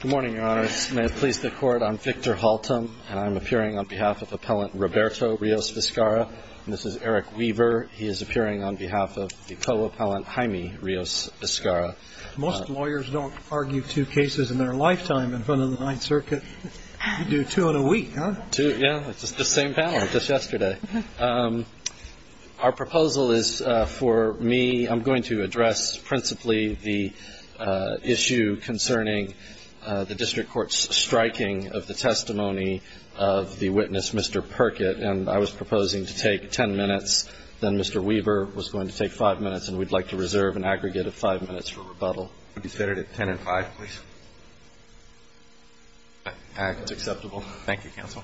Good morning, your honors. May it please the court, I'm Victor Haltom, and I'm appearing on behalf of Appellant Roberto Rios Vizcarra. And this is Eric Weaver. He is appearing on behalf of the co-appellant, Jaime Rios Vizcarra. Most lawyers don't argue two cases in their lifetime in front of the Ninth Circuit. You do two in a week, huh? Two, yeah. It's just the same panel just yesterday. Our proposal is for me, I'm going to address principally the issue concerning the district court's striking of the testimony of the witness, Mr. Perkett. And I was proposing to take 10 minutes, then Mr. Weaver was going to take 5 minutes, and we'd like to reserve an aggregate of 5 minutes for rebuttal. Would you set it at 10 and 5, please? That's acceptable. Thank you, counsel.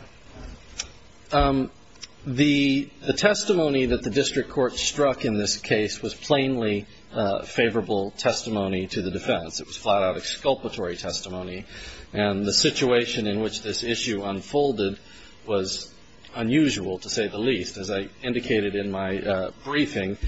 The testimony that the district court struck in this case was plainly favorable testimony to the defense. It was flat-out exculpatory testimony. And the situation in which this issue unfolded was unusual, to say the least. As I indicated in my briefing,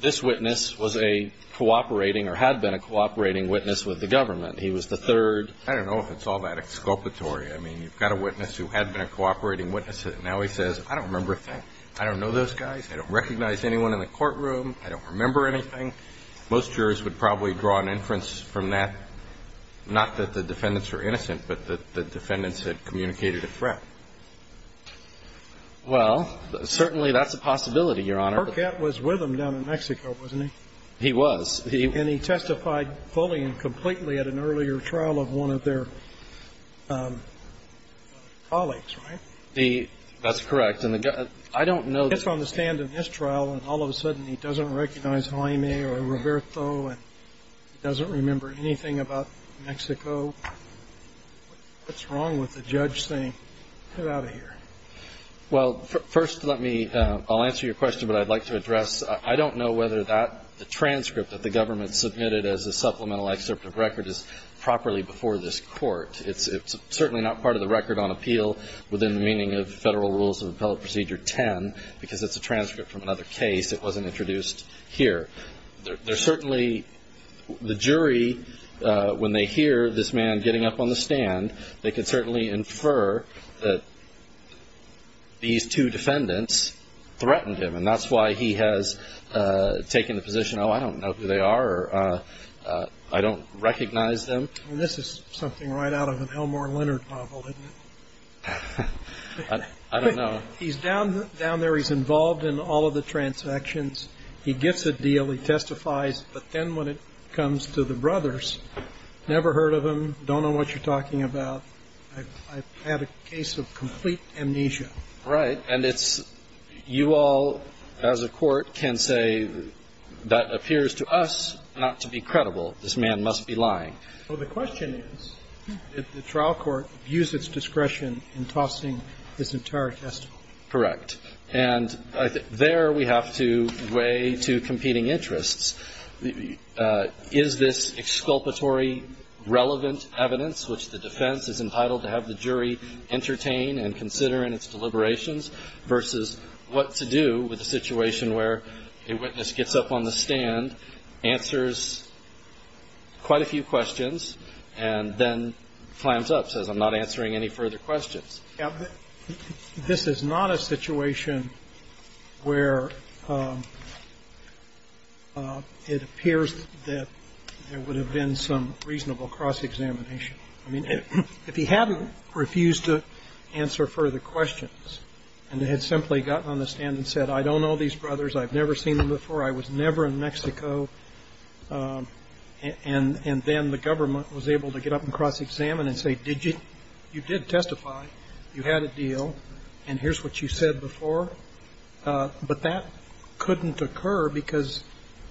this witness was a cooperating or had been a cooperating witness with the government. He was the third. I don't know if it's all that exculpatory. I mean, you've got a witness who had been a cooperating witness, and now he says, I don't remember a thing. I don't know those guys. I don't recognize anyone in the courtroom. I don't remember anything. Most jurors would probably draw an inference from that, not that the defendants were innocent, but that the defendants had communicated a threat. Well, certainly that's a possibility, Your Honor. Perkett was with them down in Mexico, wasn't he? He was. And he testified fully and completely at an earlier trial of one of their colleagues, right? That's correct. And I don't know the case. He gets on the stand in this trial, and all of a sudden he doesn't recognize Jaime or Roberto, and he doesn't remember anything about Mexico. What's wrong with the judge saying, get out of here? Well, first, let me – I'll answer your question, but I'd like to address – I don't know whether that transcript that the government submitted as a supplemental excerpt of record is properly before this court. It's certainly not part of the record on appeal within the meaning of Federal Rules of Appellate Procedure 10, because it's a transcript from another case that wasn't introduced here. There's certainly – the jury, when they hear this man getting up on the stand, they can certainly infer that these two defendants threatened him, and that's why he has taken the position, even though I don't know who they are or I don't recognize them. And this is something right out of an Elmore Leonard novel, isn't it? I don't know. He's down there. He's involved in all of the transactions. He gets a deal. He testifies. But then when it comes to the brothers, never heard of them, don't know what you're talking about. I've had a case of complete amnesia. Right. And it's – you all, as a court, can say that appears to us not to be credible. This man must be lying. Well, the question is, did the trial court use its discretion in tossing this entire testimony? Correct. And there we have to weigh two competing interests. Is this exculpatory relevant evidence, which the defense is entitled to have the jury entertain and consider in its deliberations, versus what to do with a situation where a witness gets up on the stand, answers quite a few questions, and then flams up, says, I'm not answering any further questions? Yeah. This is not a situation where it appears that there would have been some reasonable cross-examination. I mean, if he hadn't refused to answer further questions and had simply gotten on the stand and said, I don't know these brothers, I've never seen them before, I was never in Mexico, and then the government was able to get up and cross-examine and say, did you – you did testify, you had a deal, and here's what you said before. But that couldn't occur because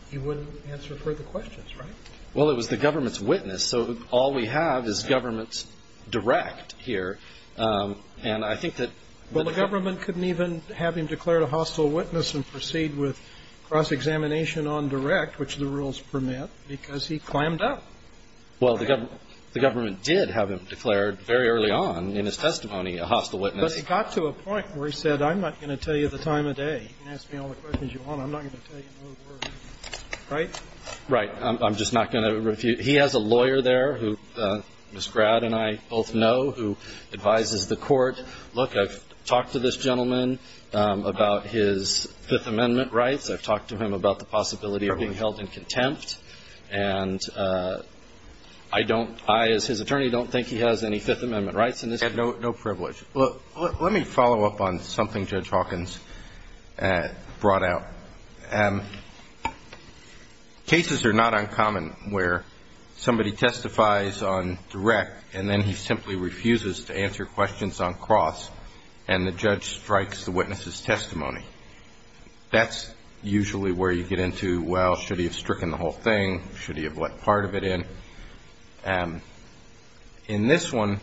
he wouldn't answer further questions, right? Well, it was the government's witness. So all we have is government's direct here. And I think that – Well, the government couldn't even have him declare a hostile witness and proceed with cross-examination on direct, which the rules permit, because he clammed up. Well, the government did have him declared very early on in his testimony a hostile witness. But it got to a point where he said, I'm not going to tell you the time of day. You can ask me all the questions you want. I'm not going to tell you no words. Right? Right. I'm just not going to refuse. He has a lawyer there who Ms. Grad and I both know who advises the court. Look, I've talked to this gentleman about his Fifth Amendment rights. I've talked to him about the possibility of being held in contempt. And I don't – I, as his attorney, don't think he has any Fifth Amendment rights. No privilege. Let me follow up on something Judge Hawkins brought out. Cases are not uncommon where somebody testifies on direct, and then he simply refuses to answer questions on cross, and the judge strikes the witness's testimony. That's usually where you get into, well, should he have stricken the whole thing? Should he have let part of it in? In this one,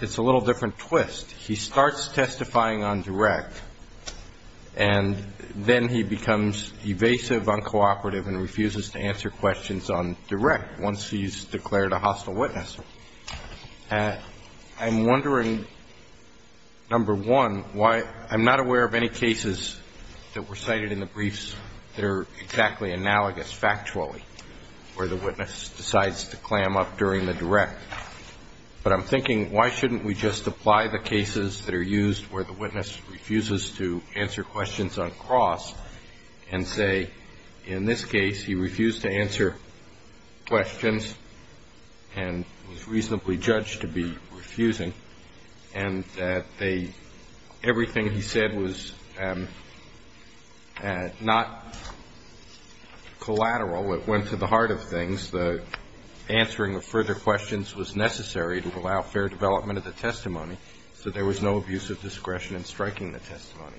it's a little different twist. He starts testifying on direct, and then he becomes evasive, uncooperative, and refuses to answer questions on direct once he's declared a hostile witness. I'm wondering, number one, why – I'm not aware of any cases that were cited in the briefs that are exactly analogous factually, where the witness decides to clam up during the direct. But I'm thinking, why shouldn't we just apply the cases that are used where the witness refuses to answer questions on cross and say, in this case, he refused to answer questions and was reasonably judged to be refusing, and that they – everything he said was not collateral. It went to the heart of things. The answering of further questions was necessary to allow fair development of the testimony, so there was no abuse of discretion in striking the testimony.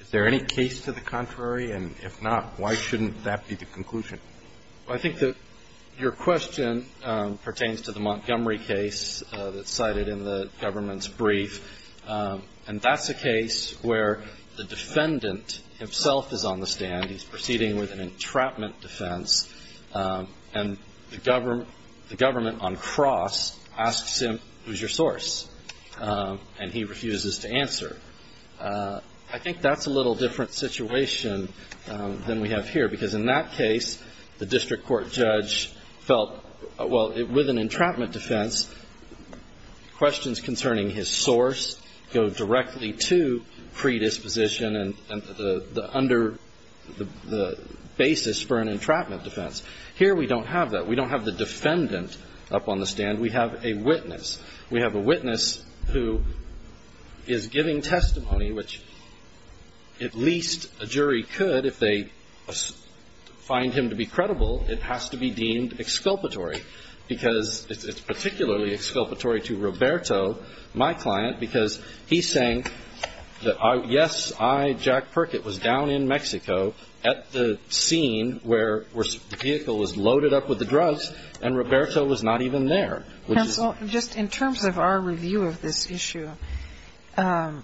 Is there any case to the contrary? And if not, why shouldn't that be the conclusion? Well, I think that your question pertains to the Montgomery case that's cited in the government's brief, and that's a case where the defendant himself is on the stand. He's proceeding with an entrapment defense, and the government on cross asks him, who's your source, and he refuses to answer. I think that's a little different situation than we have here, because in that case, the district court judge felt, well, with an entrapment defense, questions concerning his source go directly to predisposition, and the basis for an entrapment defense. Here we don't have that. We don't have the defendant up on the stand. We have a witness. We have a witness who is giving testimony, which at least a jury could if they find him to be credible. It has to be deemed exculpatory, because it's particularly exculpatory to Roberto, my client, because he's saying that, yes, I, Jack Perkett, was down in Mexico at the scene where the vehicle was loaded up with the drugs, and Roberto was not even there. Counsel, just in terms of our review of this issue, I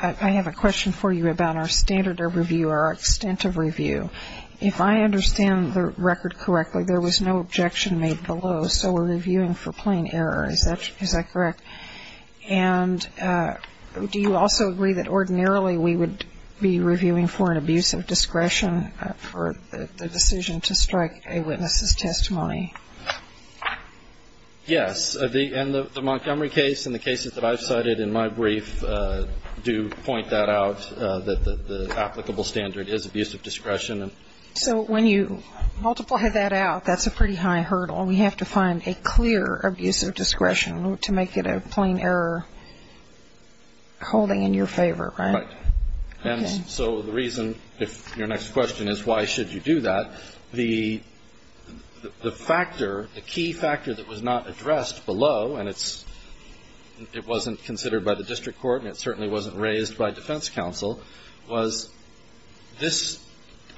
have a question for you about our standard of review, our extent of review. If I understand the record correctly, there was no objection made below, so we're reviewing for plain error. Is that correct? And do you also agree that ordinarily we would be reviewing for an abuse of discretion for the decision to strike a witness's testimony? Yes, and the Montgomery case and the cases that I've cited in my brief do point that out, that the applicable standard is abuse of discretion. So when you multiply that out, that's a pretty high hurdle. It's an abuse of discretion to make it a plain error holding in your favor, right? Right. And so the reason, if your next question is why should you do that, the factor, the key factor that was not addressed below, and it wasn't considered by the district court, and it certainly wasn't raised by defense counsel, was this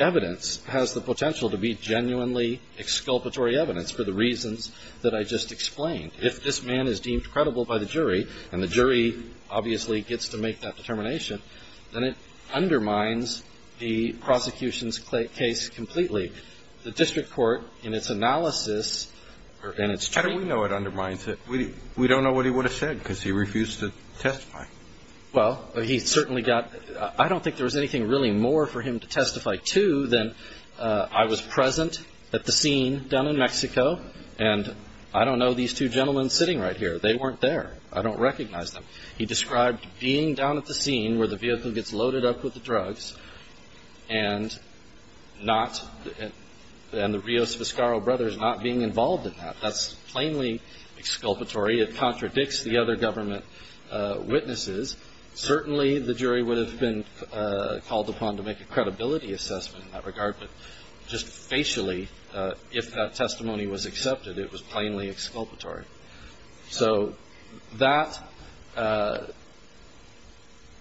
evidence has the potential to be genuinely exculpatory evidence for the reasons that I just explained. If this man is deemed credible by the jury, and the jury obviously gets to make that determination, then it undermines the prosecution's case completely. The district court, in its analysis, and its training. How do we know it undermines it? We don't know what he would have said, because he refused to testify. Well, he certainly got, I don't think there was anything really more for him to testify to than I was present at the scene down in Mexico, and I don't know these two gentlemen sitting right here. They weren't there. I don't recognize them. He described being down at the scene where the vehicle gets loaded up with the drugs, and not, and the Rios Vizcarro brothers not being involved in that. That's plainly exculpatory. It contradicts the other government witnesses. Certainly the jury would have been called upon to make a credibility assessment in that regard, but just facially, if that testimony was true,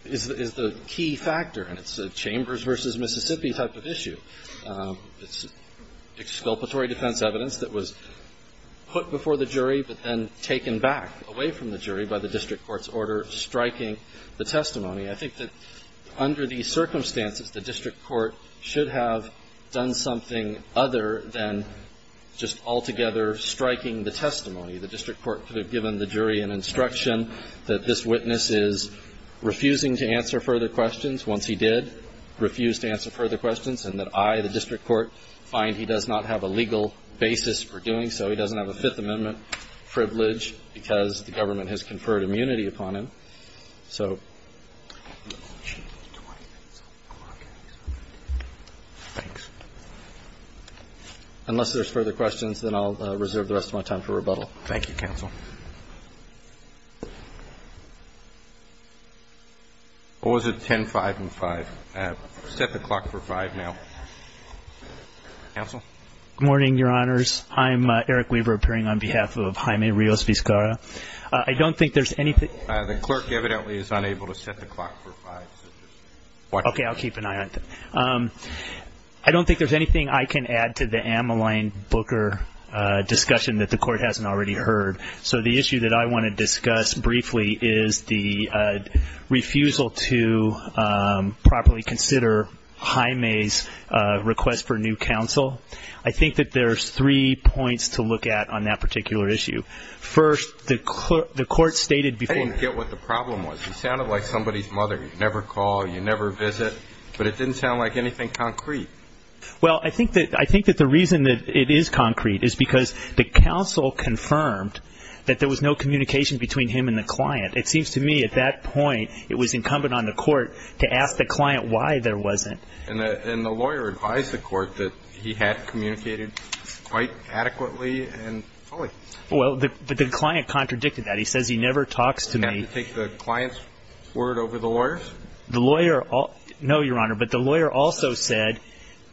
is the key factor, and it's a Chambers v. Mississippi type of issue. It's exculpatory defense evidence that was put before the jury, but then taken back away from the jury by the district court's order striking the testimony. I think that under these circumstances, the district court should have done something other than just altogether striking the testimony. The district court could have given the jury an instruction that this witness is refusing to answer further questions. Once he did, refused to answer further questions, and that I, the district court, find he does not have a legal basis for doing so. He doesn't have a Fifth Amendment privilege because the government has conferred immunity upon him. So, unless there's further questions, then I'll reserve the rest of my time for rebuttal. Thank you, counsel. What was it, 10-5 and 5? Set the clock for 5 now. Counsel? Good morning, Your Honors. I'm Eric Weaver, appearing on behalf of Jaime Rios Vizcarra. I don't think there's anything The clerk, evidently, is unable to set the clock for 5. Okay, I'll keep an eye on it. I don't think there's anything I can add to the Ameline Booker discussion that the court hasn't already heard. So the issue that I want to discuss briefly is the refusal to properly consider Jaime's request for new counsel. I think that there's three points to look at on that particular issue. First, the court stated before I didn't get what the problem was. It sounded like somebody's mother. You never call, you never visit. But it didn't sound like anything concrete. Well, I think that the reason that it is concrete is because the counsel confirmed that there was no communication between him and the client. It seems to me, at that point, it was incumbent on the court to ask the client why there wasn't. And the lawyer advised the court that he had communicated quite adequately and fully. Well, but the client contradicted that. He says he never talks to me. Did he take the client's word over the lawyer's? No, Your Honor, but the lawyer also said,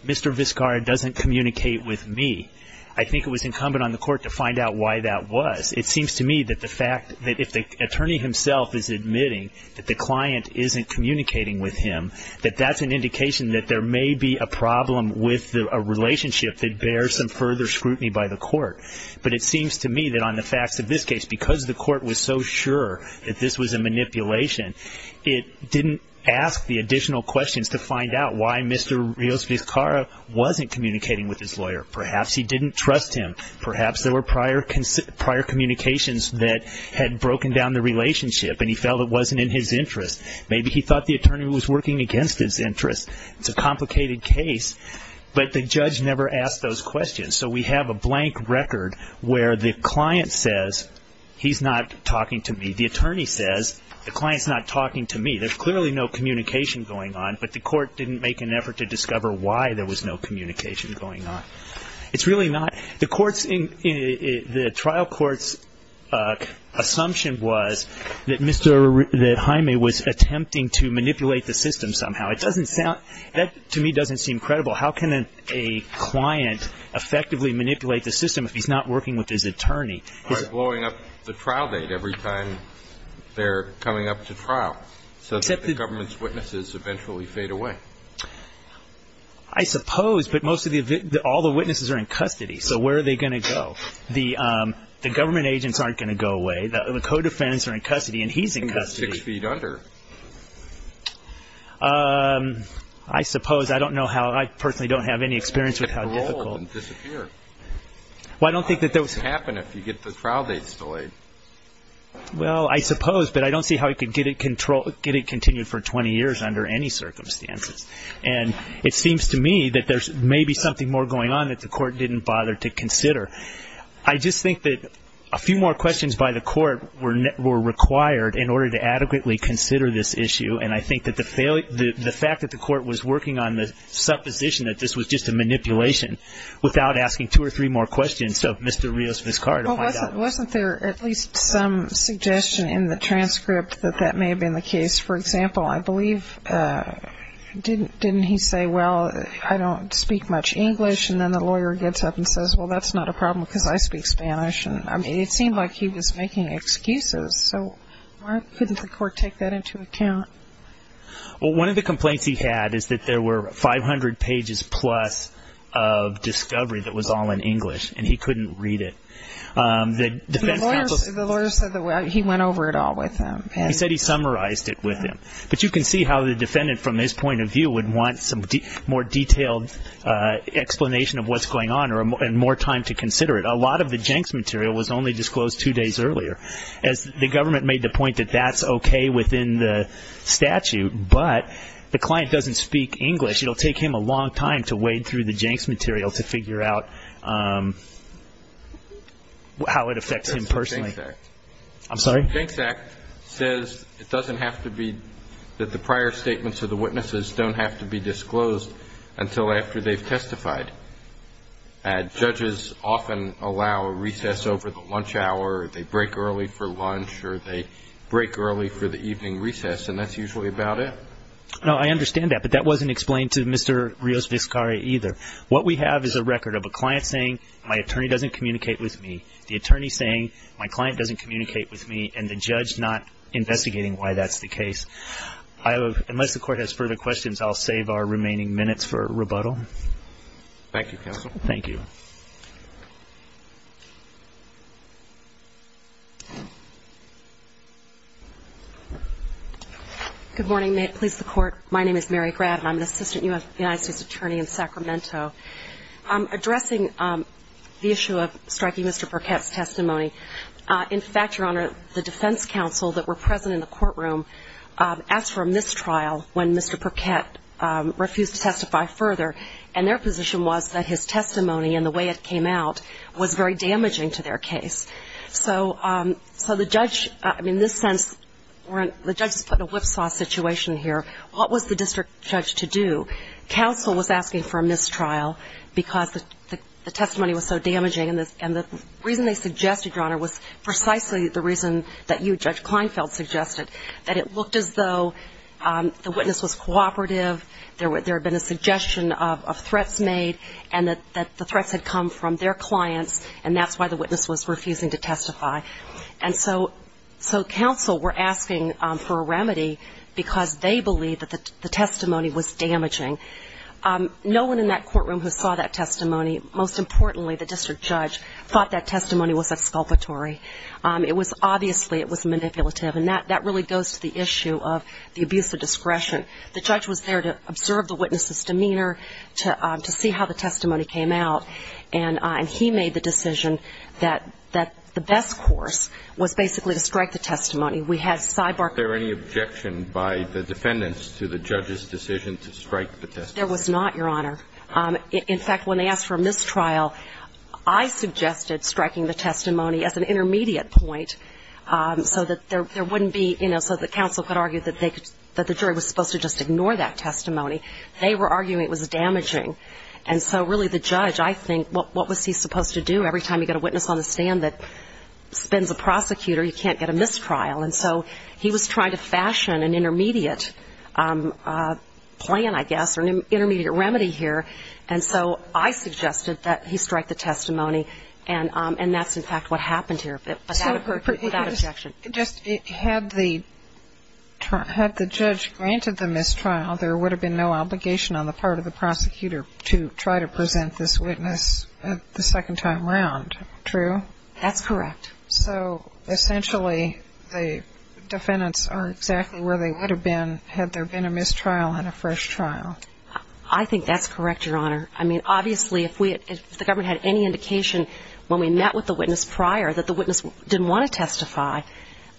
Mr. Viscar doesn't communicate with me. I think it was incumbent on the court to find out why that was. It seems to me that if the attorney himself is admitting that the client isn't communicating with him, that that's an indication that there may be a problem with a relationship that bears some further scrutiny by the court. But it seems to me that on the facts of this case, because the court was so sure that this was a manipulation, it didn't ask the additional questions to find out why Mr. Viscar wasn't communicating with his lawyer. Perhaps he didn't trust him. Perhaps there were prior communications that had broken down the relationship and he felt it wasn't in his interest. Maybe he thought the attorney was working against his interest. It's a complicated case, but the judge never asked those questions. So we have a blank record where the client says he's not talking to me. The attorney says the client's not talking to me. There's clearly no communication going on, but the court didn't make an effort to discover why there was no communication going on. The trial court's assumption was that Jaime was attempting to manipulate the system somehow. That, to me, doesn't seem credible. How can a client effectively manipulate the system if he's not working with his attorney? By blowing up the trial date every time they're coming up to trial so that the government's witnesses eventually fade away. I suppose, but all the witnesses are in custody, so where are they going to go? The government agents aren't going to go away. The co-defendants are in custody and he's in custody. He's six feet under. I personally don't have any experience with how difficult... I don't think that would happen if you get the trial dates delayed. Well, I suppose, but I don't see how he could get it continued for 20 years under any circumstances. And it seems to me that there's maybe something more going on that the court didn't bother to consider. I just think that a few more questions by the court were required in order to adequately consider this issue, and I think that the fact that the court was working on the supposition that this was just a manipulation without asking two or three more questions of Mr. Rios-Vizcarra to find out... Well, wasn't there at least some suggestion in the transcript that that may have been the case? For example, I believe, didn't he say, well, I don't speak much English? And then the lawyer gets up and says, well, that's not a problem because I speak Spanish. It seemed like he was making excuses, so why couldn't the court take that into account? Well, one of the complaints he had is that there were 500 pages-plus of discovery that was all in English, and he couldn't read it. The lawyer said that he went over it all with him. He said he summarized it with him, but you can see how the defendant, from his point of view, would want some more detailed explanation of what's going on and more time to consider it. A lot of the Jenks material was only disclosed two days earlier, as the government made the point that that's okay within the statute, but the client doesn't speak English. It'll take him a long time to wade through the Jenks material to figure out how it affects him personally. Jenks Act says it doesn't have to be, that the prior statements of the witnesses don't have to be disclosed until after they've testified. Judges often allow a recess over the lunch hour, or they break early for lunch, or they break early for the evening recess, and that's usually about it. No, I understand that, but that wasn't explained to Mr. Rios-Vizcarra either. What we have is a record of a client saying, my attorney doesn't communicate with me, the attorney saying, my client doesn't communicate with me, and the judge not investigating why that's the case. Unless the Court has further questions, I'll save our remaining minutes for rebuttal. Thank you, Counsel. Good morning. May it please the Court, my name is Mary Grabb, and I'm an assistant U.S. Attorney in Sacramento. Addressing the issue of striking Mr. Burkett's testimony, in fact, Your Honor, the defense counsel that were present in the courtroom asked for a mistrial when Mr. Burkett refused to testify further, and their position was that his testimony and the way it came out was very damaging to their case. So the judge, in this sense, the judge put a whipsaw situation here. What was the district judge to do? Counsel was asking for a mistrial because the testimony was so damaging, and the reason they suggested, Your Honor, was precisely the reason that you, Judge Kleinfeld, suggested, that it looked as though the witness was cooperative, there had been a suggestion of threats made, and that the threats had come from their clients, and that's why the witness was refusing to testify. And so counsel were asking for a remedy because they believed that the testimony was damaging. No one in that courtroom who saw that testimony, most importantly the district judge, thought that testimony was exculpatory. It was obviously, it was manipulative, and that really goes to the issue of the abuse of discretion. The judge was there to observe the witness's demeanor, to see how the testimony came out, and he made the decision that the best course was basically to strike the testimony. We had cyborg ---- Was there any objection by the defendants to the judge's decision to strike the testimony? There was not, Your Honor. In fact, when they asked for a mistrial, I suggested striking the testimony as an intermediate point, so that there wouldn't be, you know, so that counsel could argue that the jury was supposed to just ignore that testimony. They were arguing it was damaging, and so really the judge, I think, what was he supposed to do? Every time you get a witness on the stand that spins a prosecutor, you can't get a mistrial. And so he was trying to fashion an intermediate plan, I guess, or an intermediate remedy here, and so I suggested that he strike the testimony, and that's, in fact, what happened here, without objection. Just had the judge granted the mistrial, there would have been no obligation on the part of the prosecutor to try to present this witness the second time around, true? That's correct. So essentially the defendants are exactly where they would have been had there been a mistrial and a fresh trial. I think that's correct, Your Honor. I mean, obviously, if the government had any indication when we met with the witness prior that the witness didn't want to testify,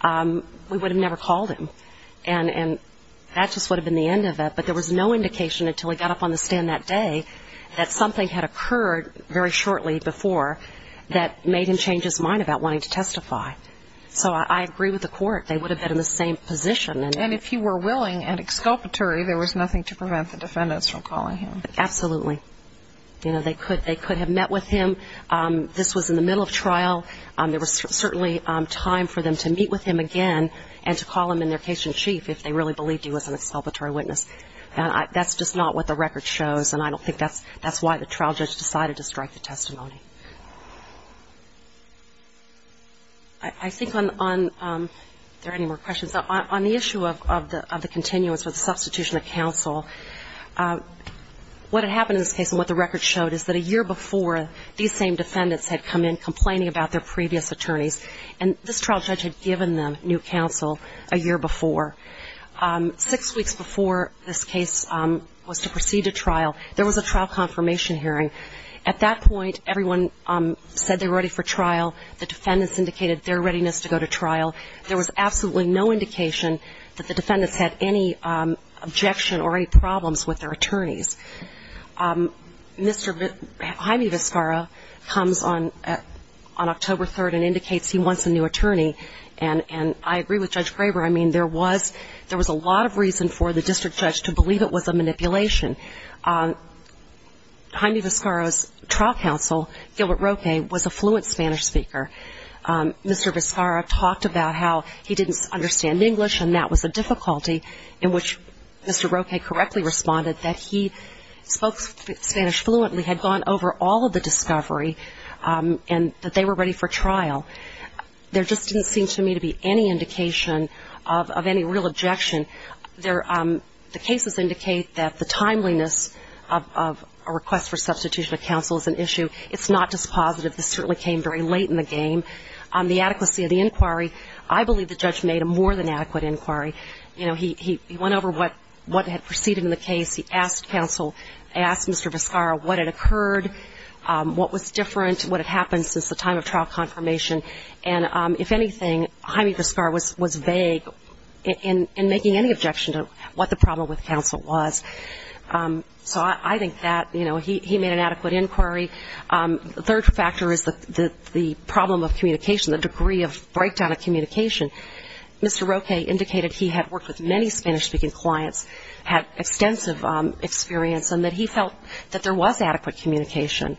we would have never called him, and that just would have been the end of it, but there was no indication until he got up on the stand that day that something had occurred very shortly before that made him change his mind about wanting to testify. So I agree with the court. They would have been in the same position. And if he were willing and exculpatory, there was nothing to prevent the defendants from calling him. Absolutely. You know, they could have met with him. This was in the middle of trial. There was certainly time for them to meet with him again and to call him in their case in chief if they really believed he was an exculpatory witness. That's just not what the record shows, and I don't think that's why the trial judge decided to strike the testimony. I think on the issue of the continuance with the substitution of counsel, what had happened in this case and what the record showed is that a year before, these same defendants had come in complaining about their previous attorneys, and this trial judge had given them new counsel a year before. Six weeks before this case was to proceed to trial, there was a trial confirmation hearing. At that point, everyone said they were ready for trial. The defendants indicated their readiness to go to trial. There was absolutely no indication that the defendants had any objection or any problems with their attorneys. Mr. Jaime Vizcarra comes on October 3rd and indicates he wants a new attorney, and I agree with Judge Graber. I mean, there was a lot of reason for the district judge to believe it was a manipulation. Jaime Vizcarra's trial counsel, Gilbert Roque, was a fluent Spanish speaker. Mr. Vizcarra talked about how he didn't understand English, and that was a difficulty in which Mr. Roque correctly responded that he spoke Spanish fluently, had gone over all of the discovery, and that they were ready for trial. There just didn't seem to me to be any indication of any real objection. The cases indicate that the timeliness of a request for substitution of counsel is an issue. It's not dispositive. This certainly came very late in the game. The adequacy of the inquiry, I believe the judge made a more than adequate inquiry. You know, he went over what had proceeded in the case. He asked counsel, asked Mr. Vizcarra what had occurred, what was different, what had happened since the time of trial confirmation, and if anything, Jaime Vizcarra was vague in making any objection to what the problem with counsel was. So I think that, you know, he made an adequate inquiry. The third factor is the problem of communication, the degree of breakdown of communication. Mr. Roque indicated he had worked with many Spanish-speaking clients, had extensive experience, and that he felt that there was adequate communication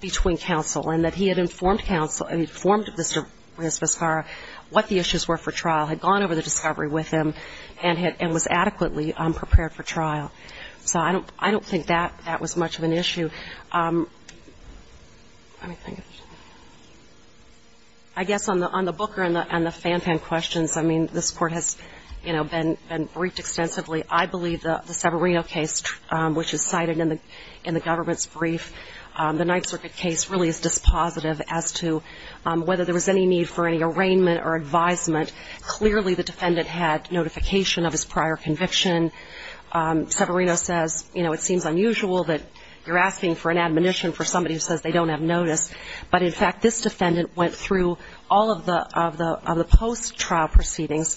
between counsel, and that he had informed counsel, informed Mr. Vizcarra what the issues were for trial, had gone over the discovery with him, and was adequately prepared for trial. So I don't think that was much of an issue. Let me think. I guess on the Booker and the Fantan questions, I mean, this Court has, you know, been briefed extensively. I believe the Severino case, which is cited in the government's brief, the Ninth Circuit case really is dispositive as to whether there was any need for any arraignment or advisement. Clearly the defendant had notification of his prior conviction. Severino says, you know, it seems unusual that you're asking for an admonition for somebody who says they don't have notice. But, in fact, this defendant went through all of the post-trial proceedings.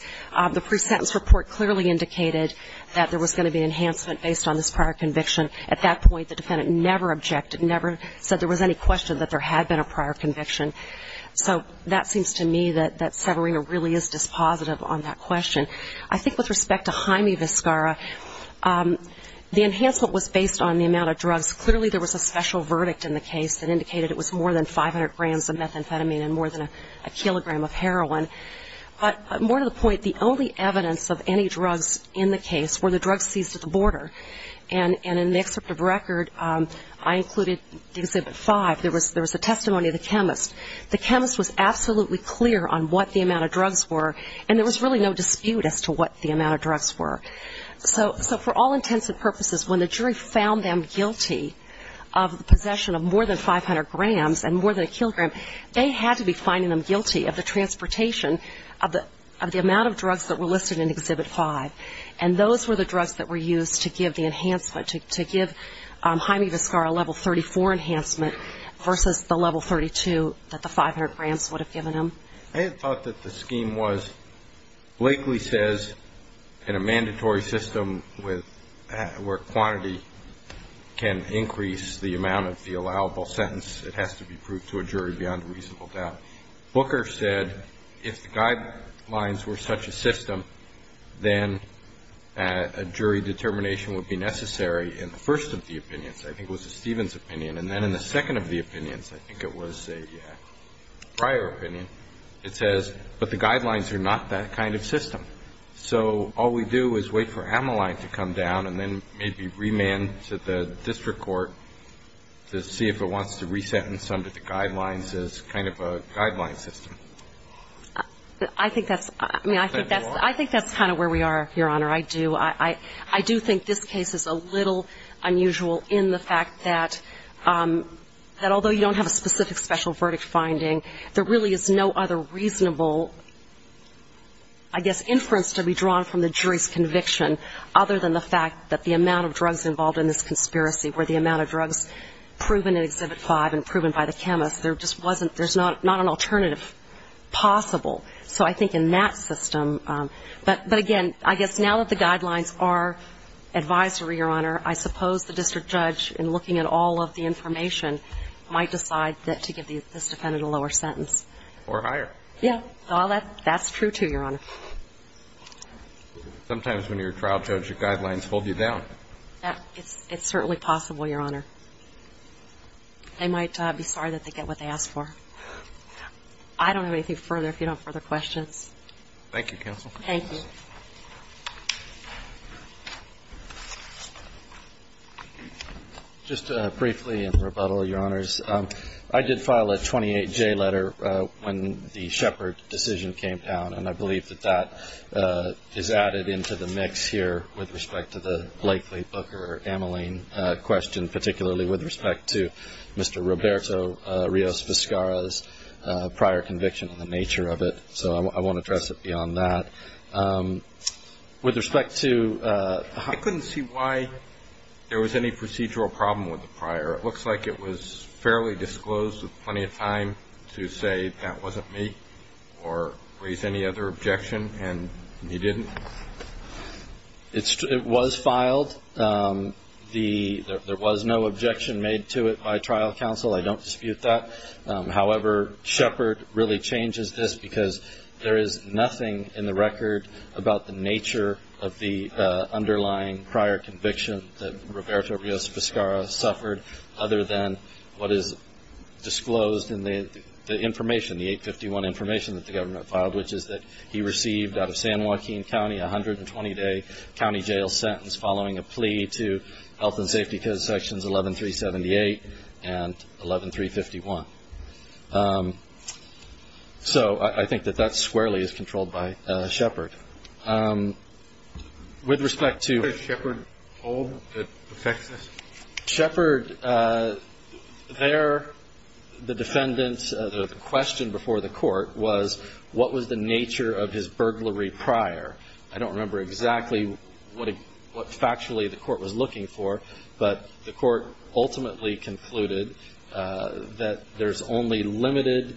The pre-sentence report clearly indicated that there was going to be enhancement based on this prior conviction. At that point, the defendant never objected, never said there was any question that there had been a prior conviction. So that seems to me that Severino really is dispositive on that question. I think with respect to Jaime Vizcarra, the enhancement was based on the amount of drugs. Clearly there was a special verdict in the case that indicated it was more than 500 grams of methamphetamine and more than a kilogram of heroin. But more to the point, the only evidence of any drugs in the case were the drugs seized at the border. And in the excerpt of record, I included Exhibit 5, there was a testimony of the chemist. The chemist was absolutely clear on what the amount of drugs were, and there was really no dispute as to what the amount of drugs were. So for all intents and purposes, when the jury found them guilty of possession of more than 500 grams and more than a kilogram, they had to be finding them guilty of the transportation of the amount of drugs that were listed in Exhibit 5. And those were the drugs that were used to give the enhancement, to give Jaime Vizcarra a Level 34 enhancement versus the Level 32 enhancement. I had thought that the scheme was, Blakely says in a mandatory system where quantity can increase the amount of the allowable sentence, it has to be proved to a jury beyond a reasonable doubt. Booker said if the guidelines were such a system, then a jury determination would be necessary in the first of the opinions. I think it was a Stevens opinion. And then in the second of the opinions, I think it was a Breyer opinion, it says, but the guidelines are not that kind of system. So all we do is wait for Amoline to come down and then maybe remand to the district court to see if it wants to re-sentence under the guidelines as kind of a guideline system. I think that's kind of where we are, Your Honor. I do think this case is a little unusual in the fact that although you don't have a specific special verdict finding, there really is no other reasonable, I guess, inference to be drawn from the jury's conviction other than the fact that the amount of drugs involved in this conspiracy were the amount of drugs proven in Exhibit 5 and proven by the chemist. There's not an alternative possible. So I think in that system, but again, I guess now that the guidelines are advisory, Your Honor, I suppose the district judge in looking at all of the information might decide to give this defendant a lower sentence. Or higher. Yeah. That's true, too, Your Honor. Sometimes when you're a trial judge, your guidelines hold you down. It's certainly possible, Your Honor. They might be sorry that they get what they ask for. I don't have anything further if you don't have further questions. Thank you, Counsel. Thank you. Just briefly in rebuttal, Your Honors, I did file a 28J letter when the Shepard decision came down, and I believe that that is added into the mix here with respect to the Blakely Booker amyling question, particularly with respect to Mr. Roberto Rios Vizcarra's prior conviction and the nature of it. So I won't address it beyond that. I couldn't see why there was any procedural problem with the prior. It looks like it was fairly disclosed with plenty of time to say that wasn't me or raise any other objection, and you didn't. It was filed. There was no objection made to it by trial counsel. I don't dispute that. However, Shepard really changes this because there is nothing in the record about the nature of the underlying prior conviction that Roberto Rios Vizcarra suffered other than what is disclosed in the information, the 851 information that the government filed, which is that he received out of San Joaquin County a 120-day county jail sentence following a plea to health and safety sections 11378 and 11351. So I think that that squarely is controlled by Shepard. With respect to Shepard, the question before the court was what was the nature of his burglary prior. I don't remember exactly what factually the court was looking for, but the court ultimately concluded that there's only limited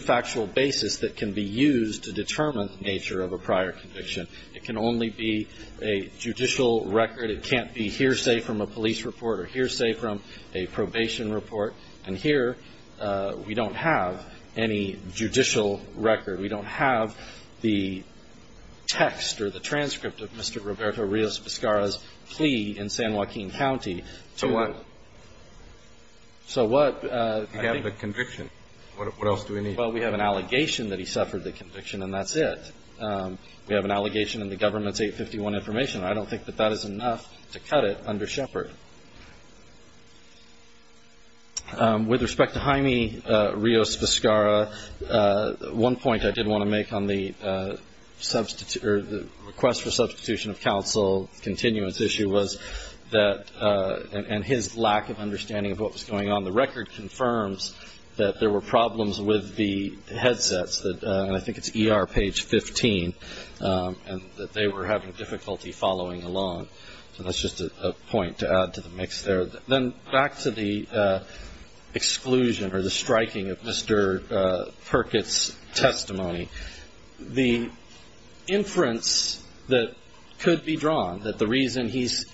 factual basis that can be used to determine the nature of a prior conviction. It can only be a judicial record. It can't be hearsay from a police report or hearsay from a probation report. And here we don't have any judicial record. We don't have the text or the transcript of Mr. Roberto Rios Vizcarra's plea in San Joaquin County. So what? You have the conviction. What else do we need? Well, we have an allegation that he suffered the conviction, and that's it. We have an allegation in the government's 851 information. I don't think that that is enough to cut it under Shepard. With respect to Jaime Rios Vizcarra, one point I did want to make on the request for substitution of counsel continuance issue was that and his lack of understanding of what was going on. The record confirms that there were problems with the headsets. And I think it's ER page 15, and that they were having difficulty following along. So that's just a point to add to the mix there. Then back to the exclusion or the striking of Mr. Perkett's testimony. The inference that could be drawn, that the reason he's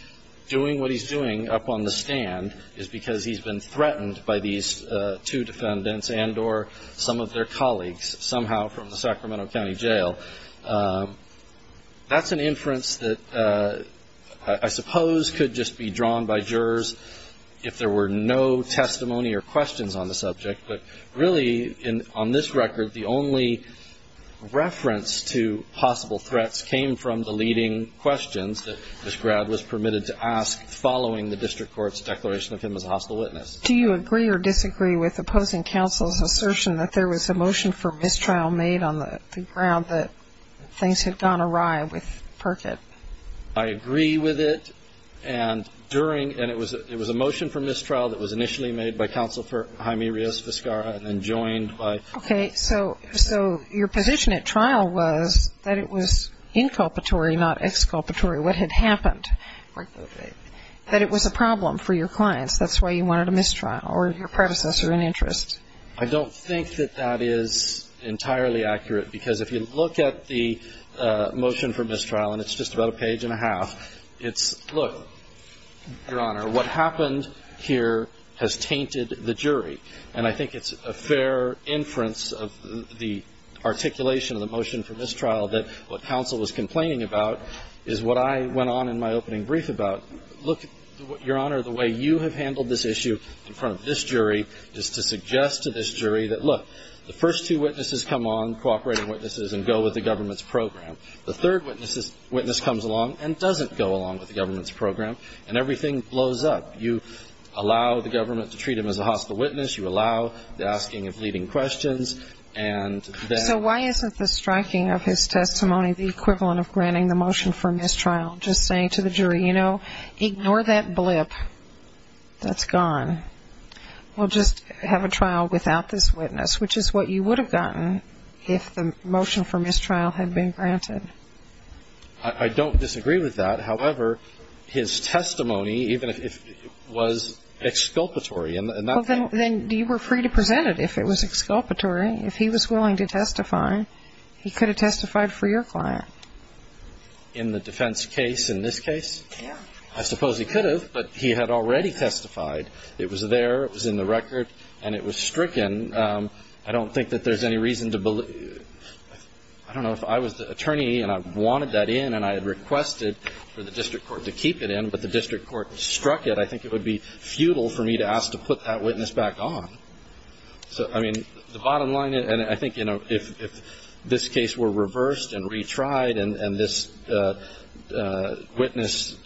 doing what he's doing up on the stand is because he's been threatened by these two defendants and or some of their colleagues somehow from the Sacramento County Jail, that's an inference that I suppose could just be drawn by jurors if there were no testimony or questions on the subject. But really, on this record, the only reference to possible threats came from the leading questions that he was asked during the district court's declaration of him as a hostile witness. Do you agree or disagree with opposing counsel's assertion that there was a motion for mistrial made on the ground that things had gone awry with Perkett? I agree with it. And it was a motion for mistrial that was initially made by Counselor Jaime Rios Vizcarra and then joined by Okay, so your position at trial was that it was inculpatory, not exculpatory. What had happened? That it was a problem for your clients. That's why you wanted a mistrial or your predecessor in interest. I don't think that that is entirely accurate, because if you look at the motion for mistrial, and it's just about a page and a half, it's, look, Your Honor, what happened here has tainted the jury. And I think it's a fair inference of the articulation of the motion for mistrial that what counsel was complaining about is what I went on in my opening brief about. Look, Your Honor, the way you have handled this issue in front of this jury is to suggest to this jury that, look, the first two witnesses come on, cooperating witnesses, and go with the government's program. The third witness comes along and doesn't go along with the government's program, and everything blows up. You allow the government to treat him as a hostile witness. You allow the asking of leading questions. So why isn't the striking of his testimony the equivalent of granting the motion for mistrial, just saying to the jury, you know, ignore that blip that's gone. We'll just have a trial without this witness, which is what you would have gotten if the motion for mistrial had been granted. I don't disagree with that. However, his testimony, even if it was exculpatory. Well, then you were free to present it if it was exculpatory. If he was willing to testify, he could have testified for your client. In the defense case, in this case? I suppose he could have, but he had already testified. It was there, it was in the record, and it was stricken. I don't think that there's any reason to believe. I don't know if I was the attorney and I wanted that in and I had requested for the district court to keep it in, but the district court struck it. I think it would be futile for me to ask to put that witness back on. So, I mean, the bottom line, and I think, you know, if this case were reversed and retried and this witness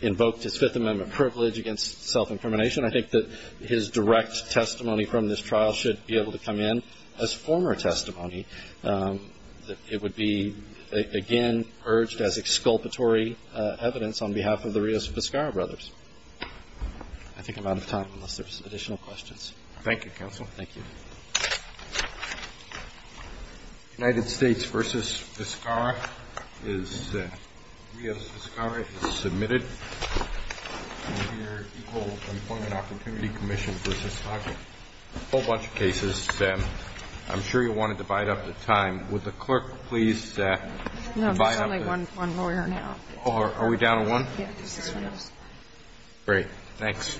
invoked his Fifth Amendment privilege against self-incrimination, I think that his direct testimony from this trial should be able to come in as former testimony. It would be, again, urged as exculpatory evidence on behalf of the Rios Vizcarra brothers. I think I'm out of time unless there's additional questions. Thank you, counsel. United States v. Vizcarra is, Rios Vizcarra is submitted to your Equal Employment Opportunity Commission for this topic. A whole bunch of cases. I'm sure you want to divide up the time. Would the clerk please divide up the time? No, there's only one lawyer now. Are we down to one? Yes. Great. Thanks. Thank you.